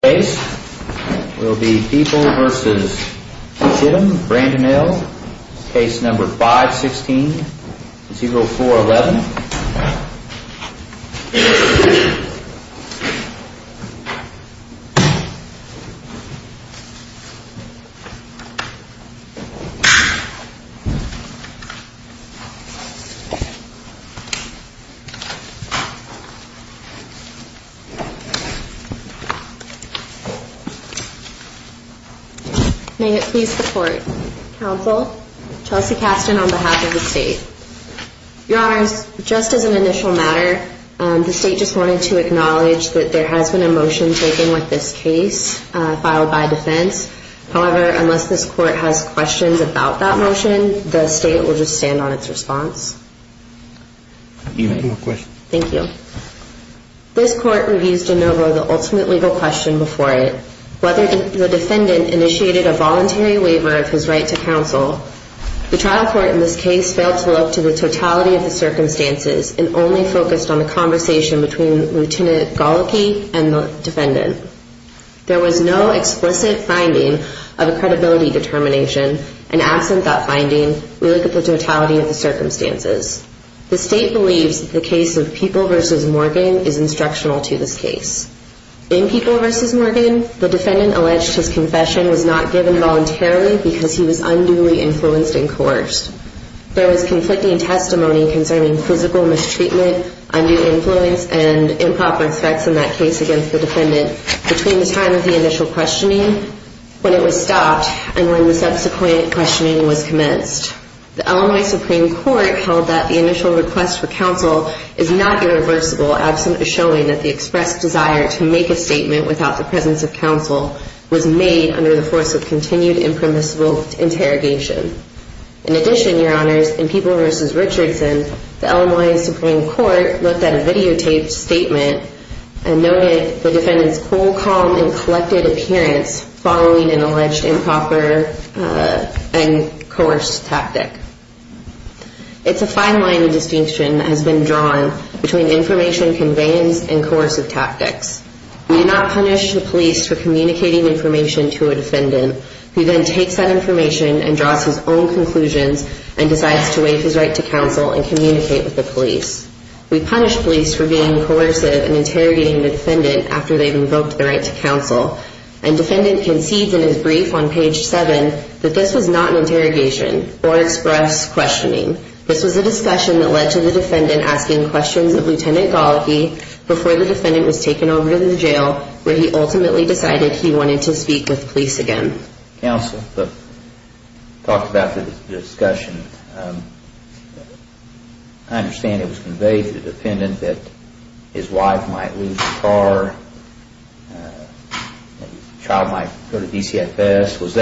This case will be People v. Chittum, Brandon Hill, Case No. 516-0411. May it please the Court, Counsel, Chelsea Kasten on behalf of the State. Your Honors, just as an initial matter, the State just wanted to acknowledge that there has been a motion taken with this case filed by defense. However, unless this Court has questions about that motion, the State will just stand on its response. Thank you. This Court reviews de novo the ultimate legal question before it, whether the defendant initiated a voluntary waiver of his right to counsel. The trial court in this case failed to look to the totality of the circumstances and only focused on the conversation between Lt. Goloky and the defendant. There was no explicit finding of a credibility determination, and absent that finding, we look at the totality of the circumstances. The State believes that the case of People v. Morgan is instructional to this case. In People v. Morgan, the defendant alleged his confession was not given voluntarily because he was unduly influenced and coerced. There was conflicting testimony concerning physical mistreatment, undue influence, and improper threats in that case against the defendant between the time of the initial questioning, when it was stopped, and when the subsequent questioning was commenced. The Illinois Supreme Court held that the initial request for counsel is not irreversible, absent a showing that the expressed desire to make a statement without the presence of counsel was made under the force of continued impermissible interrogation. In addition, Your Honors, in People v. Richardson, the Illinois Supreme Court looked at a videotaped statement and noted the defendant's cool, calm, and collected appearance following an alleged improper and coerced tactic. It's a fine line of distinction that has been drawn between information conveyance and coercive tactics. We do not punish the police for communicating information to a defendant, who then takes that information and draws his own conclusions and decides to waive his right to counsel and communicate with the police. We punish police for being coercive and interrogating the defendant after they've invoked the right to counsel, and defendant concedes in his brief on page 7 that this was not an interrogation or express questioning. This was a discussion that led to the defendant asking questions of Lt. Goloky before the defendant was taken over to the jail, where he ultimately decided he wanted to speak with police again. Counsel, you talked about the discussion. I understand it was conveyed to the defendant that his wife might lose the car, the child might go to DCFS.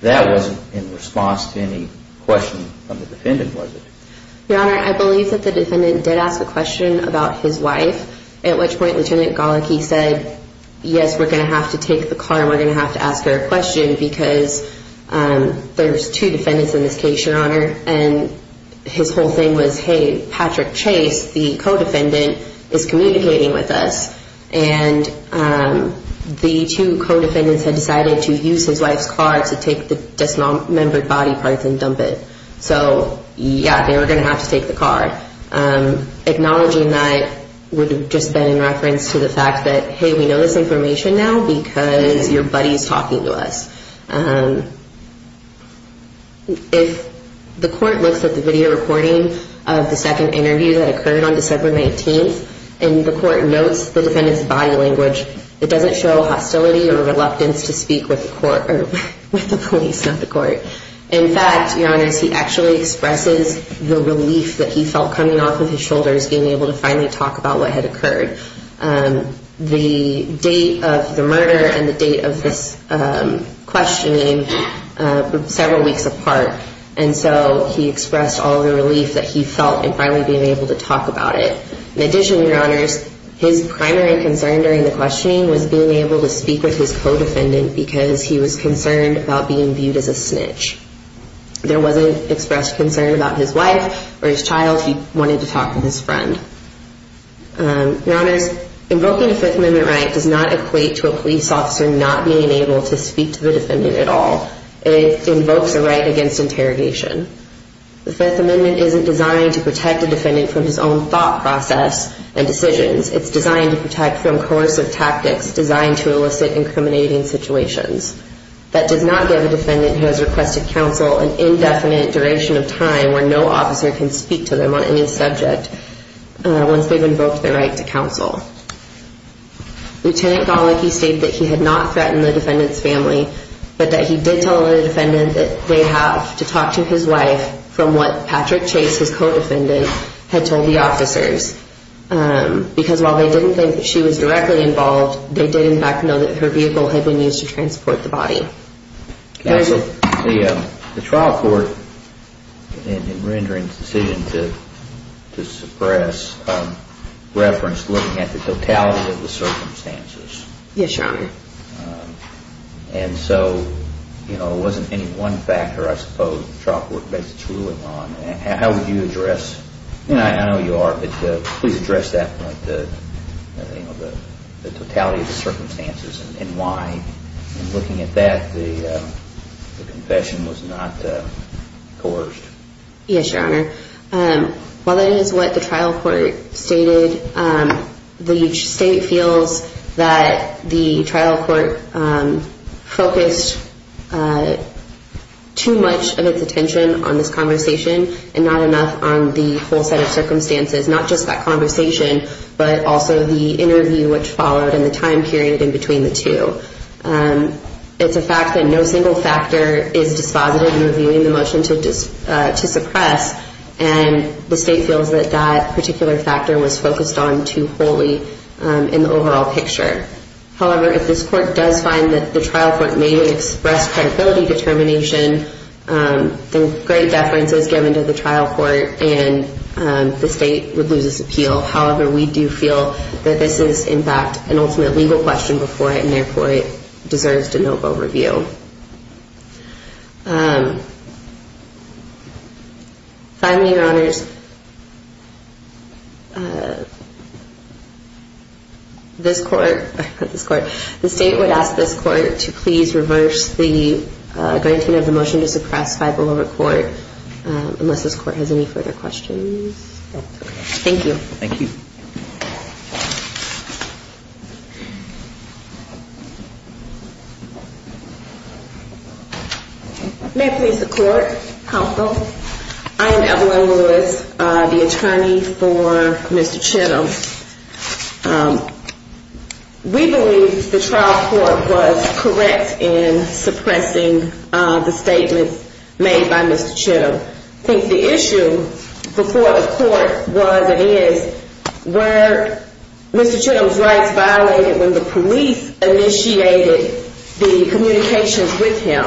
That wasn't in response to any question from the defendant, was it? Your Honor, I believe that the defendant did ask a question about his wife, at which point Lt. Goloky said, yes, we're going to have to take the car and we're going to have to ask her a question because there's two defendants in this case, Your Honor. And his whole thing was, hey, Patrick Chase, the co-defendant, is communicating with us. And the two co-defendants had decided to use his wife's car to take the dismembered body parts and dump it. So, yeah, they were going to have to take the car. Acknowledging that would have just been in reference to the fact that, hey, we know this information now because your buddy is talking to us. If the court looks at the video recording of the second interview that occurred on December 19th, and the court notes the defendant's body language, it doesn't show hostility or reluctance to speak with the police, not the court. In fact, Your Honor, he actually expresses the relief that he felt coming off of his shoulders, being able to finally talk about what had occurred. The date of the murder and the date of this questioning were several weeks apart. And so he expressed all the relief that he felt in finally being able to talk about it. In addition, Your Honors, his primary concern during the questioning was being able to speak with his co-defendant because he was concerned about being viewed as a snitch. There wasn't expressed concern about his wife or his child. He wanted to talk to his friend. Your Honors, invoking a Fifth Amendment right does not equate to a police officer not being able to speak to the defendant at all. It invokes a right against interrogation. The Fifth Amendment isn't designed to protect a defendant from his own thought process and decisions. It's designed to protect from coercive tactics designed to elicit incriminating situations. That does not give a defendant who has requested counsel an indefinite duration of time where no officer can speak to them on any subject once they've invoked their right to counsel. Lt. Golicki stated that he had not threatened the defendant's family, but that he did tell the defendant that they have to talk to his wife from what Patrick Chase, his co-defendant, had told the officers. Because while they didn't think that she was directly involved, they did in fact know that her vehicle had been used to transport the body. Counsel, the trial court, in rendering its decision to suppress, referenced looking at the totality of the circumstances. Yes, Your Honor. And so, you know, it wasn't any one factor, I suppose, in the trial court basis it's ruling on. How would you address, and I know you are, but please address that point, the totality of the circumstances and why. Looking at that, the confession was not coerced. Yes, Your Honor. While that is what the trial court stated, the state feels that the trial court focused too much of its attention on this conversation and not enough on the whole set of circumstances, not just that conversation, but also the interview which followed and the time period in between the two. It's a fact that no single factor is dispositive in reviewing the motion to suppress, and the state feels that that particular factor was focused on too wholly in the overall picture. However, if this court does find that the trial court may have expressed credibility determination, then great deference is given to the trial court and the state would lose its appeal. However, we do feel that this is, in fact, an ultimate legal question before it, and therefore it deserves to no vote review. Finally, Your Honors, this court, the state would ask this court to please reverse the granting of the motion to suppress by the lower court unless this court has any further questions. Thank you. Thank you. May it please the court, counsel. I am Evelyn Lewis, the attorney for Mr. Chittum. We believe the trial court was correct in suppressing the statement made by Mr. Chittum. I think the issue before the court was and is where Mr. Chittum's rights violated when the police initiated the communications with him.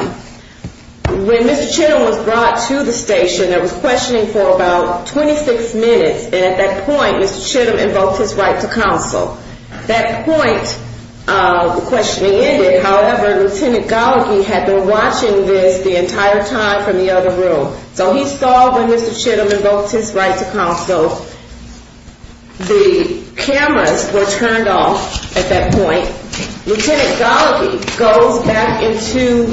When Mr. Chittum was brought to the station, there was questioning for about 26 minutes, and at that point Mr. Chittum invoked his right to counsel. At that point, the questioning ended. However, Lieutenant Gallagher had been watching this the entire time from the other room. So he saw when Mr. Chittum invoked his right to counsel, the cameras were turned off at that point. Lieutenant Gallagher goes back into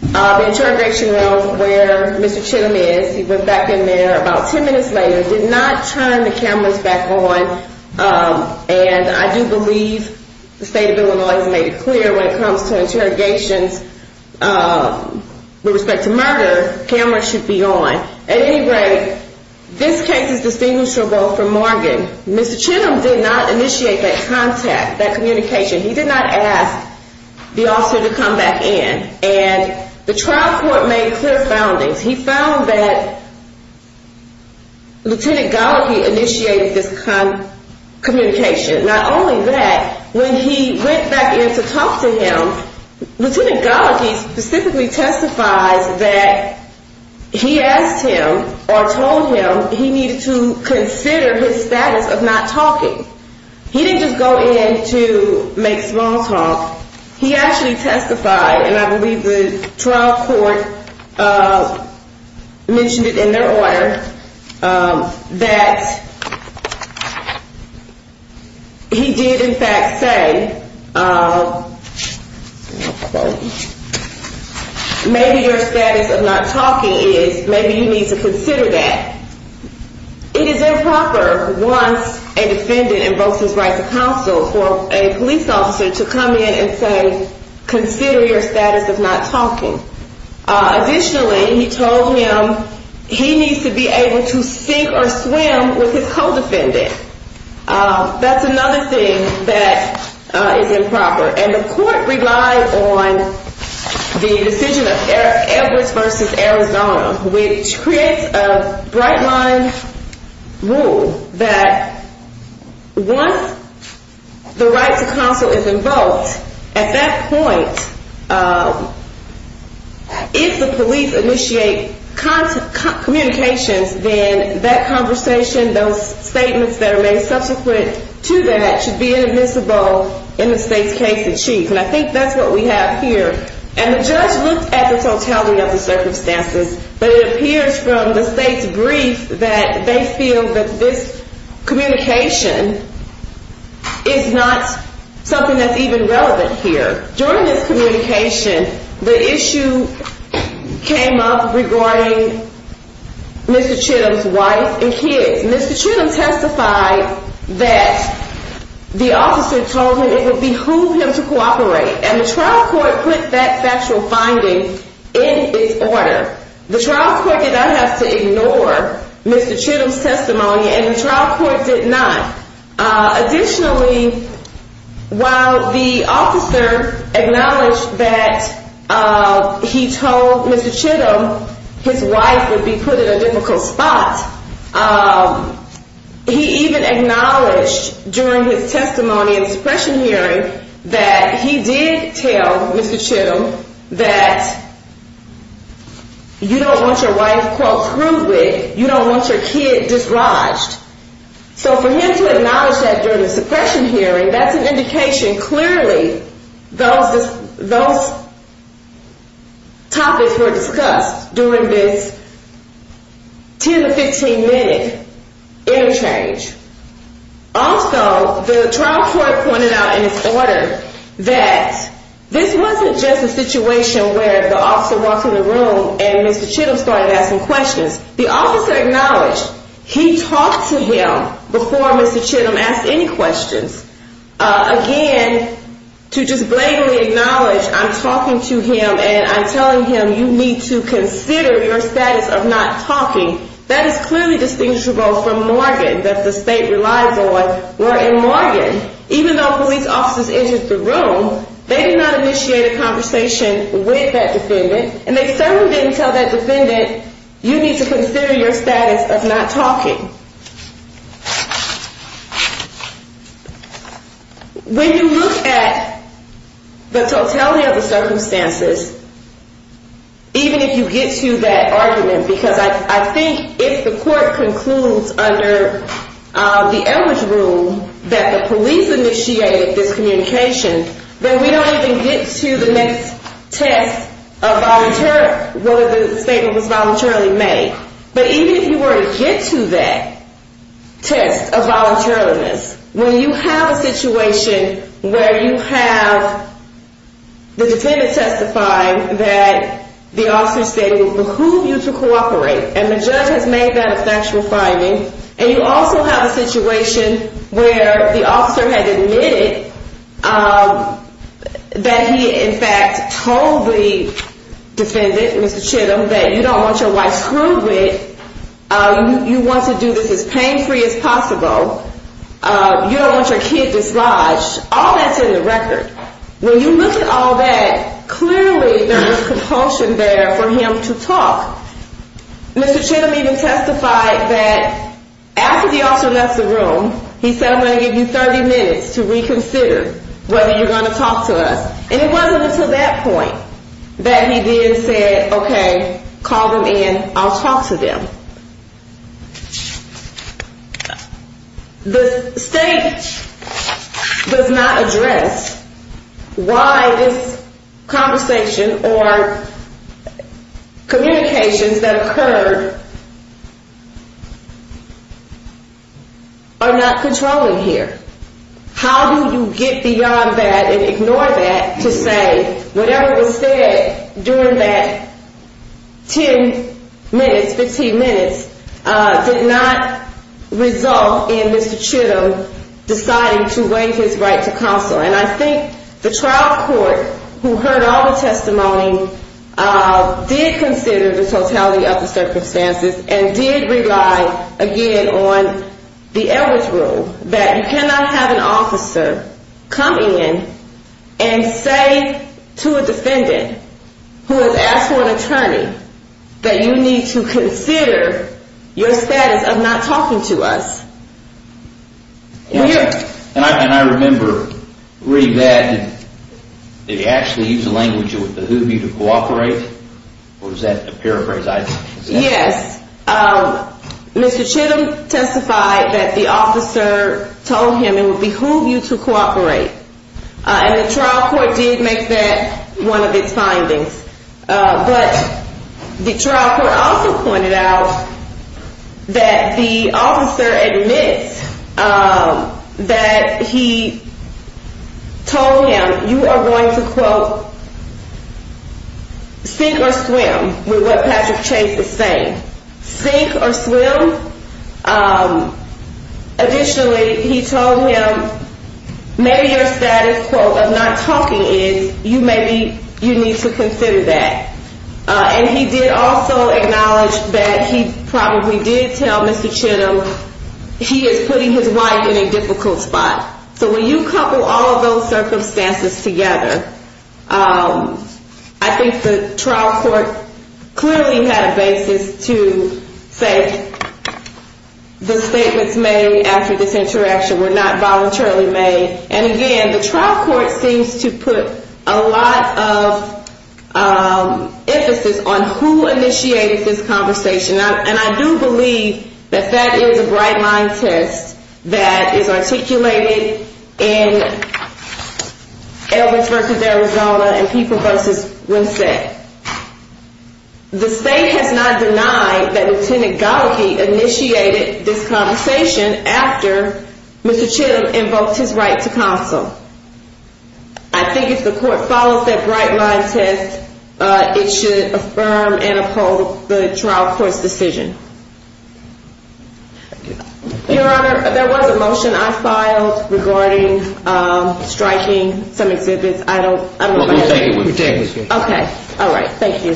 the interrogation room where Mr. Chittum is. He went back in there. About 10 minutes later, did not turn the cameras back on. And I do believe the state of Illinois has made it clear when it comes to interrogations with respect to murder, cameras should be on. At any rate, this case is distinguishable from Morgan. Mr. Chittum did not initiate that contact, that communication. He did not ask the officer to come back in. And the trial court made clear foundings. He found that Lieutenant Gallagher initiated this kind of communication. Not only that, when he went back in to talk to him, Lieutenant Gallagher specifically testifies that he asked him or told him he needed to consider his status of not talking. He didn't just go in to make small talk. He actually testified, and I believe the trial court mentioned it in their order, that he did in fact say, maybe your status of not talking is maybe you need to consider that. It is improper once a defendant invokes his right to counsel for a police officer to come in and say, consider your status of not talking. Additionally, he told him he needs to be able to sink or swim with his co-defendant. That's another thing that is improper. And the court relied on the decision of Edwards v. Arizona, which creates a bright line rule that once the right to counsel is invoked, at that point, if the police initiate communications, then that conversation, those statements that are made subsequent to that should be inadmissible in the state's case in chief. And I think that's what we have here. And the judge looked at the totality of the circumstances, but it appears from the state's brief that they feel that this communication is not something that's even relevant here. During this communication, the issue came up regarding Mr. Chittum's wife and kids. Mr. Chittum testified that the officer told him it would behoove him to cooperate, and the trial court put that factual finding in its order. The trial court did not have to ignore Mr. Chittum's testimony, and the trial court did not. Additionally, while the officer acknowledged that he told Mr. Chittum his wife would be put in a difficult spot, he even acknowledged during his testimony and suppression hearing that he did tell Mr. Chittum that you don't want your wife quote, you don't want your kid disrodged. So for him to acknowledge that during the suppression hearing, that's an indication clearly those topics were discussed during this 10 to 15 minute interchange. Also, the trial court pointed out in its order that this wasn't just a situation where the officer walked in the room and Mr. Chittum started asking questions. The officer acknowledged he talked to him before Mr. Chittum asked any questions. Again, to just blatantly acknowledge I'm talking to him and I'm telling him you need to consider your status of not talking, that is clearly distinguishable from Morgan, that the state relied on were in Morgan. Even though police officers entered the room, they did not initiate a conversation with that defendant, and they certainly didn't tell that defendant you need to consider your status of not talking. When you look at the totality of the circumstances, even if you get to that argument, because I think if the court concludes under the average rule that the police initiated this communication, then we don't even get to the next test of whether the statement was voluntarily made. But even if you were to get to that test of voluntariliness, when you have a situation where you have the defendant testifying that the officer stated it would behoove you to cooperate, and the judge has made that a factual finding, and you also have a situation where the officer has admitted that he in fact told the defendant, Mr. Chittum, that you don't want your wife screwed with, you want to do this as pain-free as possible, you don't want your kid dislodged, all that's in the record. When you look at all that, clearly there was compulsion there for him to talk. Mr. Chittum even testified that after the officer left the room, he said I'm going to give you 30 minutes to reconsider whether you're going to talk to us. And it wasn't until that point that he then said, okay, call them in, I'll talk to them. The state does not address why this conversation or communications that occurred are not controlling here. How do you get beyond that and ignore that to say whatever was said during that 10 minutes, 15 minutes, did not result in Mr. Chittum deciding to waive his right to counsel? And I think the trial court who heard all the testimony did consider the totality of the circumstances and did rely again on the Edwards rule that you cannot have an officer come in and say to a defendant who has asked for an attorney that you need to consider your status of not talking to us. And I remember reading that, did he actually use the language with the who view to cooperate? Was that a paraphrase? Yes. Mr. Chittum testified that the officer told him it would behoove you to cooperate. And the trial court did make that one of its findings. But the trial court also pointed out that the officer admits that he told him, you are going to, quote, sink or swim with what Patrick Chase is saying. Sink or swim? Additionally, he told him maybe your status, quote, of not talking is, you may be, you need to consider that. And he did also acknowledge that he probably did tell Mr. Chittum he is putting his wife in a difficult spot. So when you couple all of those circumstances together, I think the trial court clearly had a basis to say the statements made after this interaction were not voluntarily made. And again, the trial court seems to put a lot of emphasis on who initiated this conversation. And I do believe that that is a bright line test that is articulated in Elders versus Arizona and People versus Winsett. The state has not denied that Lieutenant Gallagher initiated this conversation after Mr. Chittum invoked his right to counsel. I think if the court follows that bright line test, it should affirm and uphold the trial court's decision. Your Honor, there was a motion I filed regarding striking some exhibits. I don't know about that. We'll take it with you. Okay. All right. Thank you.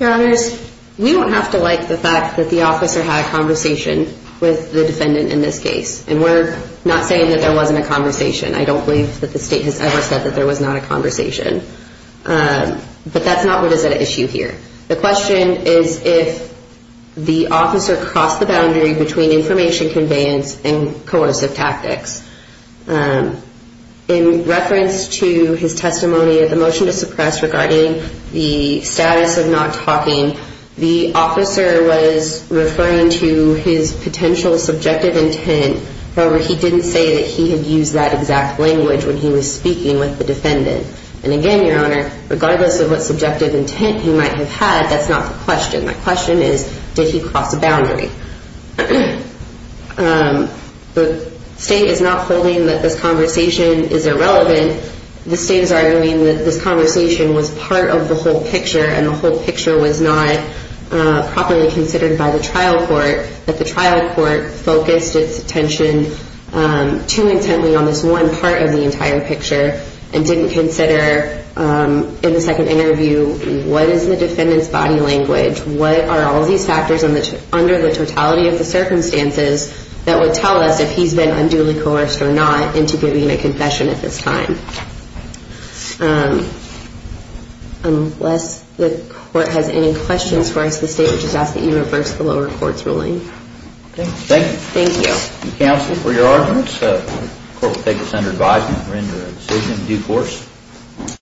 Your Honors, we don't have to like the fact that the officer had a conversation with the defendant in this case. And we're not saying that there wasn't a conversation. I don't believe that the state has ever said that there was not a conversation. But that's not what is at issue here. The question is if the officer crossed the boundary between information conveyance and coercive tactics. In reference to his testimony of the motion to suppress regarding the status of not talking, the officer was referring to his potential subjective intent. However, he didn't say that he had used that exact language when he was speaking with the defendant. And again, Your Honor, regardless of what subjective intent he might have had, that's not the question. The question is did he cross a boundary? The state is not holding that this conversation is irrelevant. The state is arguing that this conversation was part of the whole picture and the whole picture was not properly considered by the trial court, that the trial court focused its attention too intently on this one part of the entire picture and didn't consider in the second interview what is the defendant's body language, what are all these factors under the totality of the circumstances that would tell us if he's been unduly coerced or not into giving a confession at this time. Unless the court has any questions for us, the state would just ask that you reverse the lower court's ruling. Thank you. Thank you. Counsel, for your arguments, the court will take this under advisement and render a decision in due course.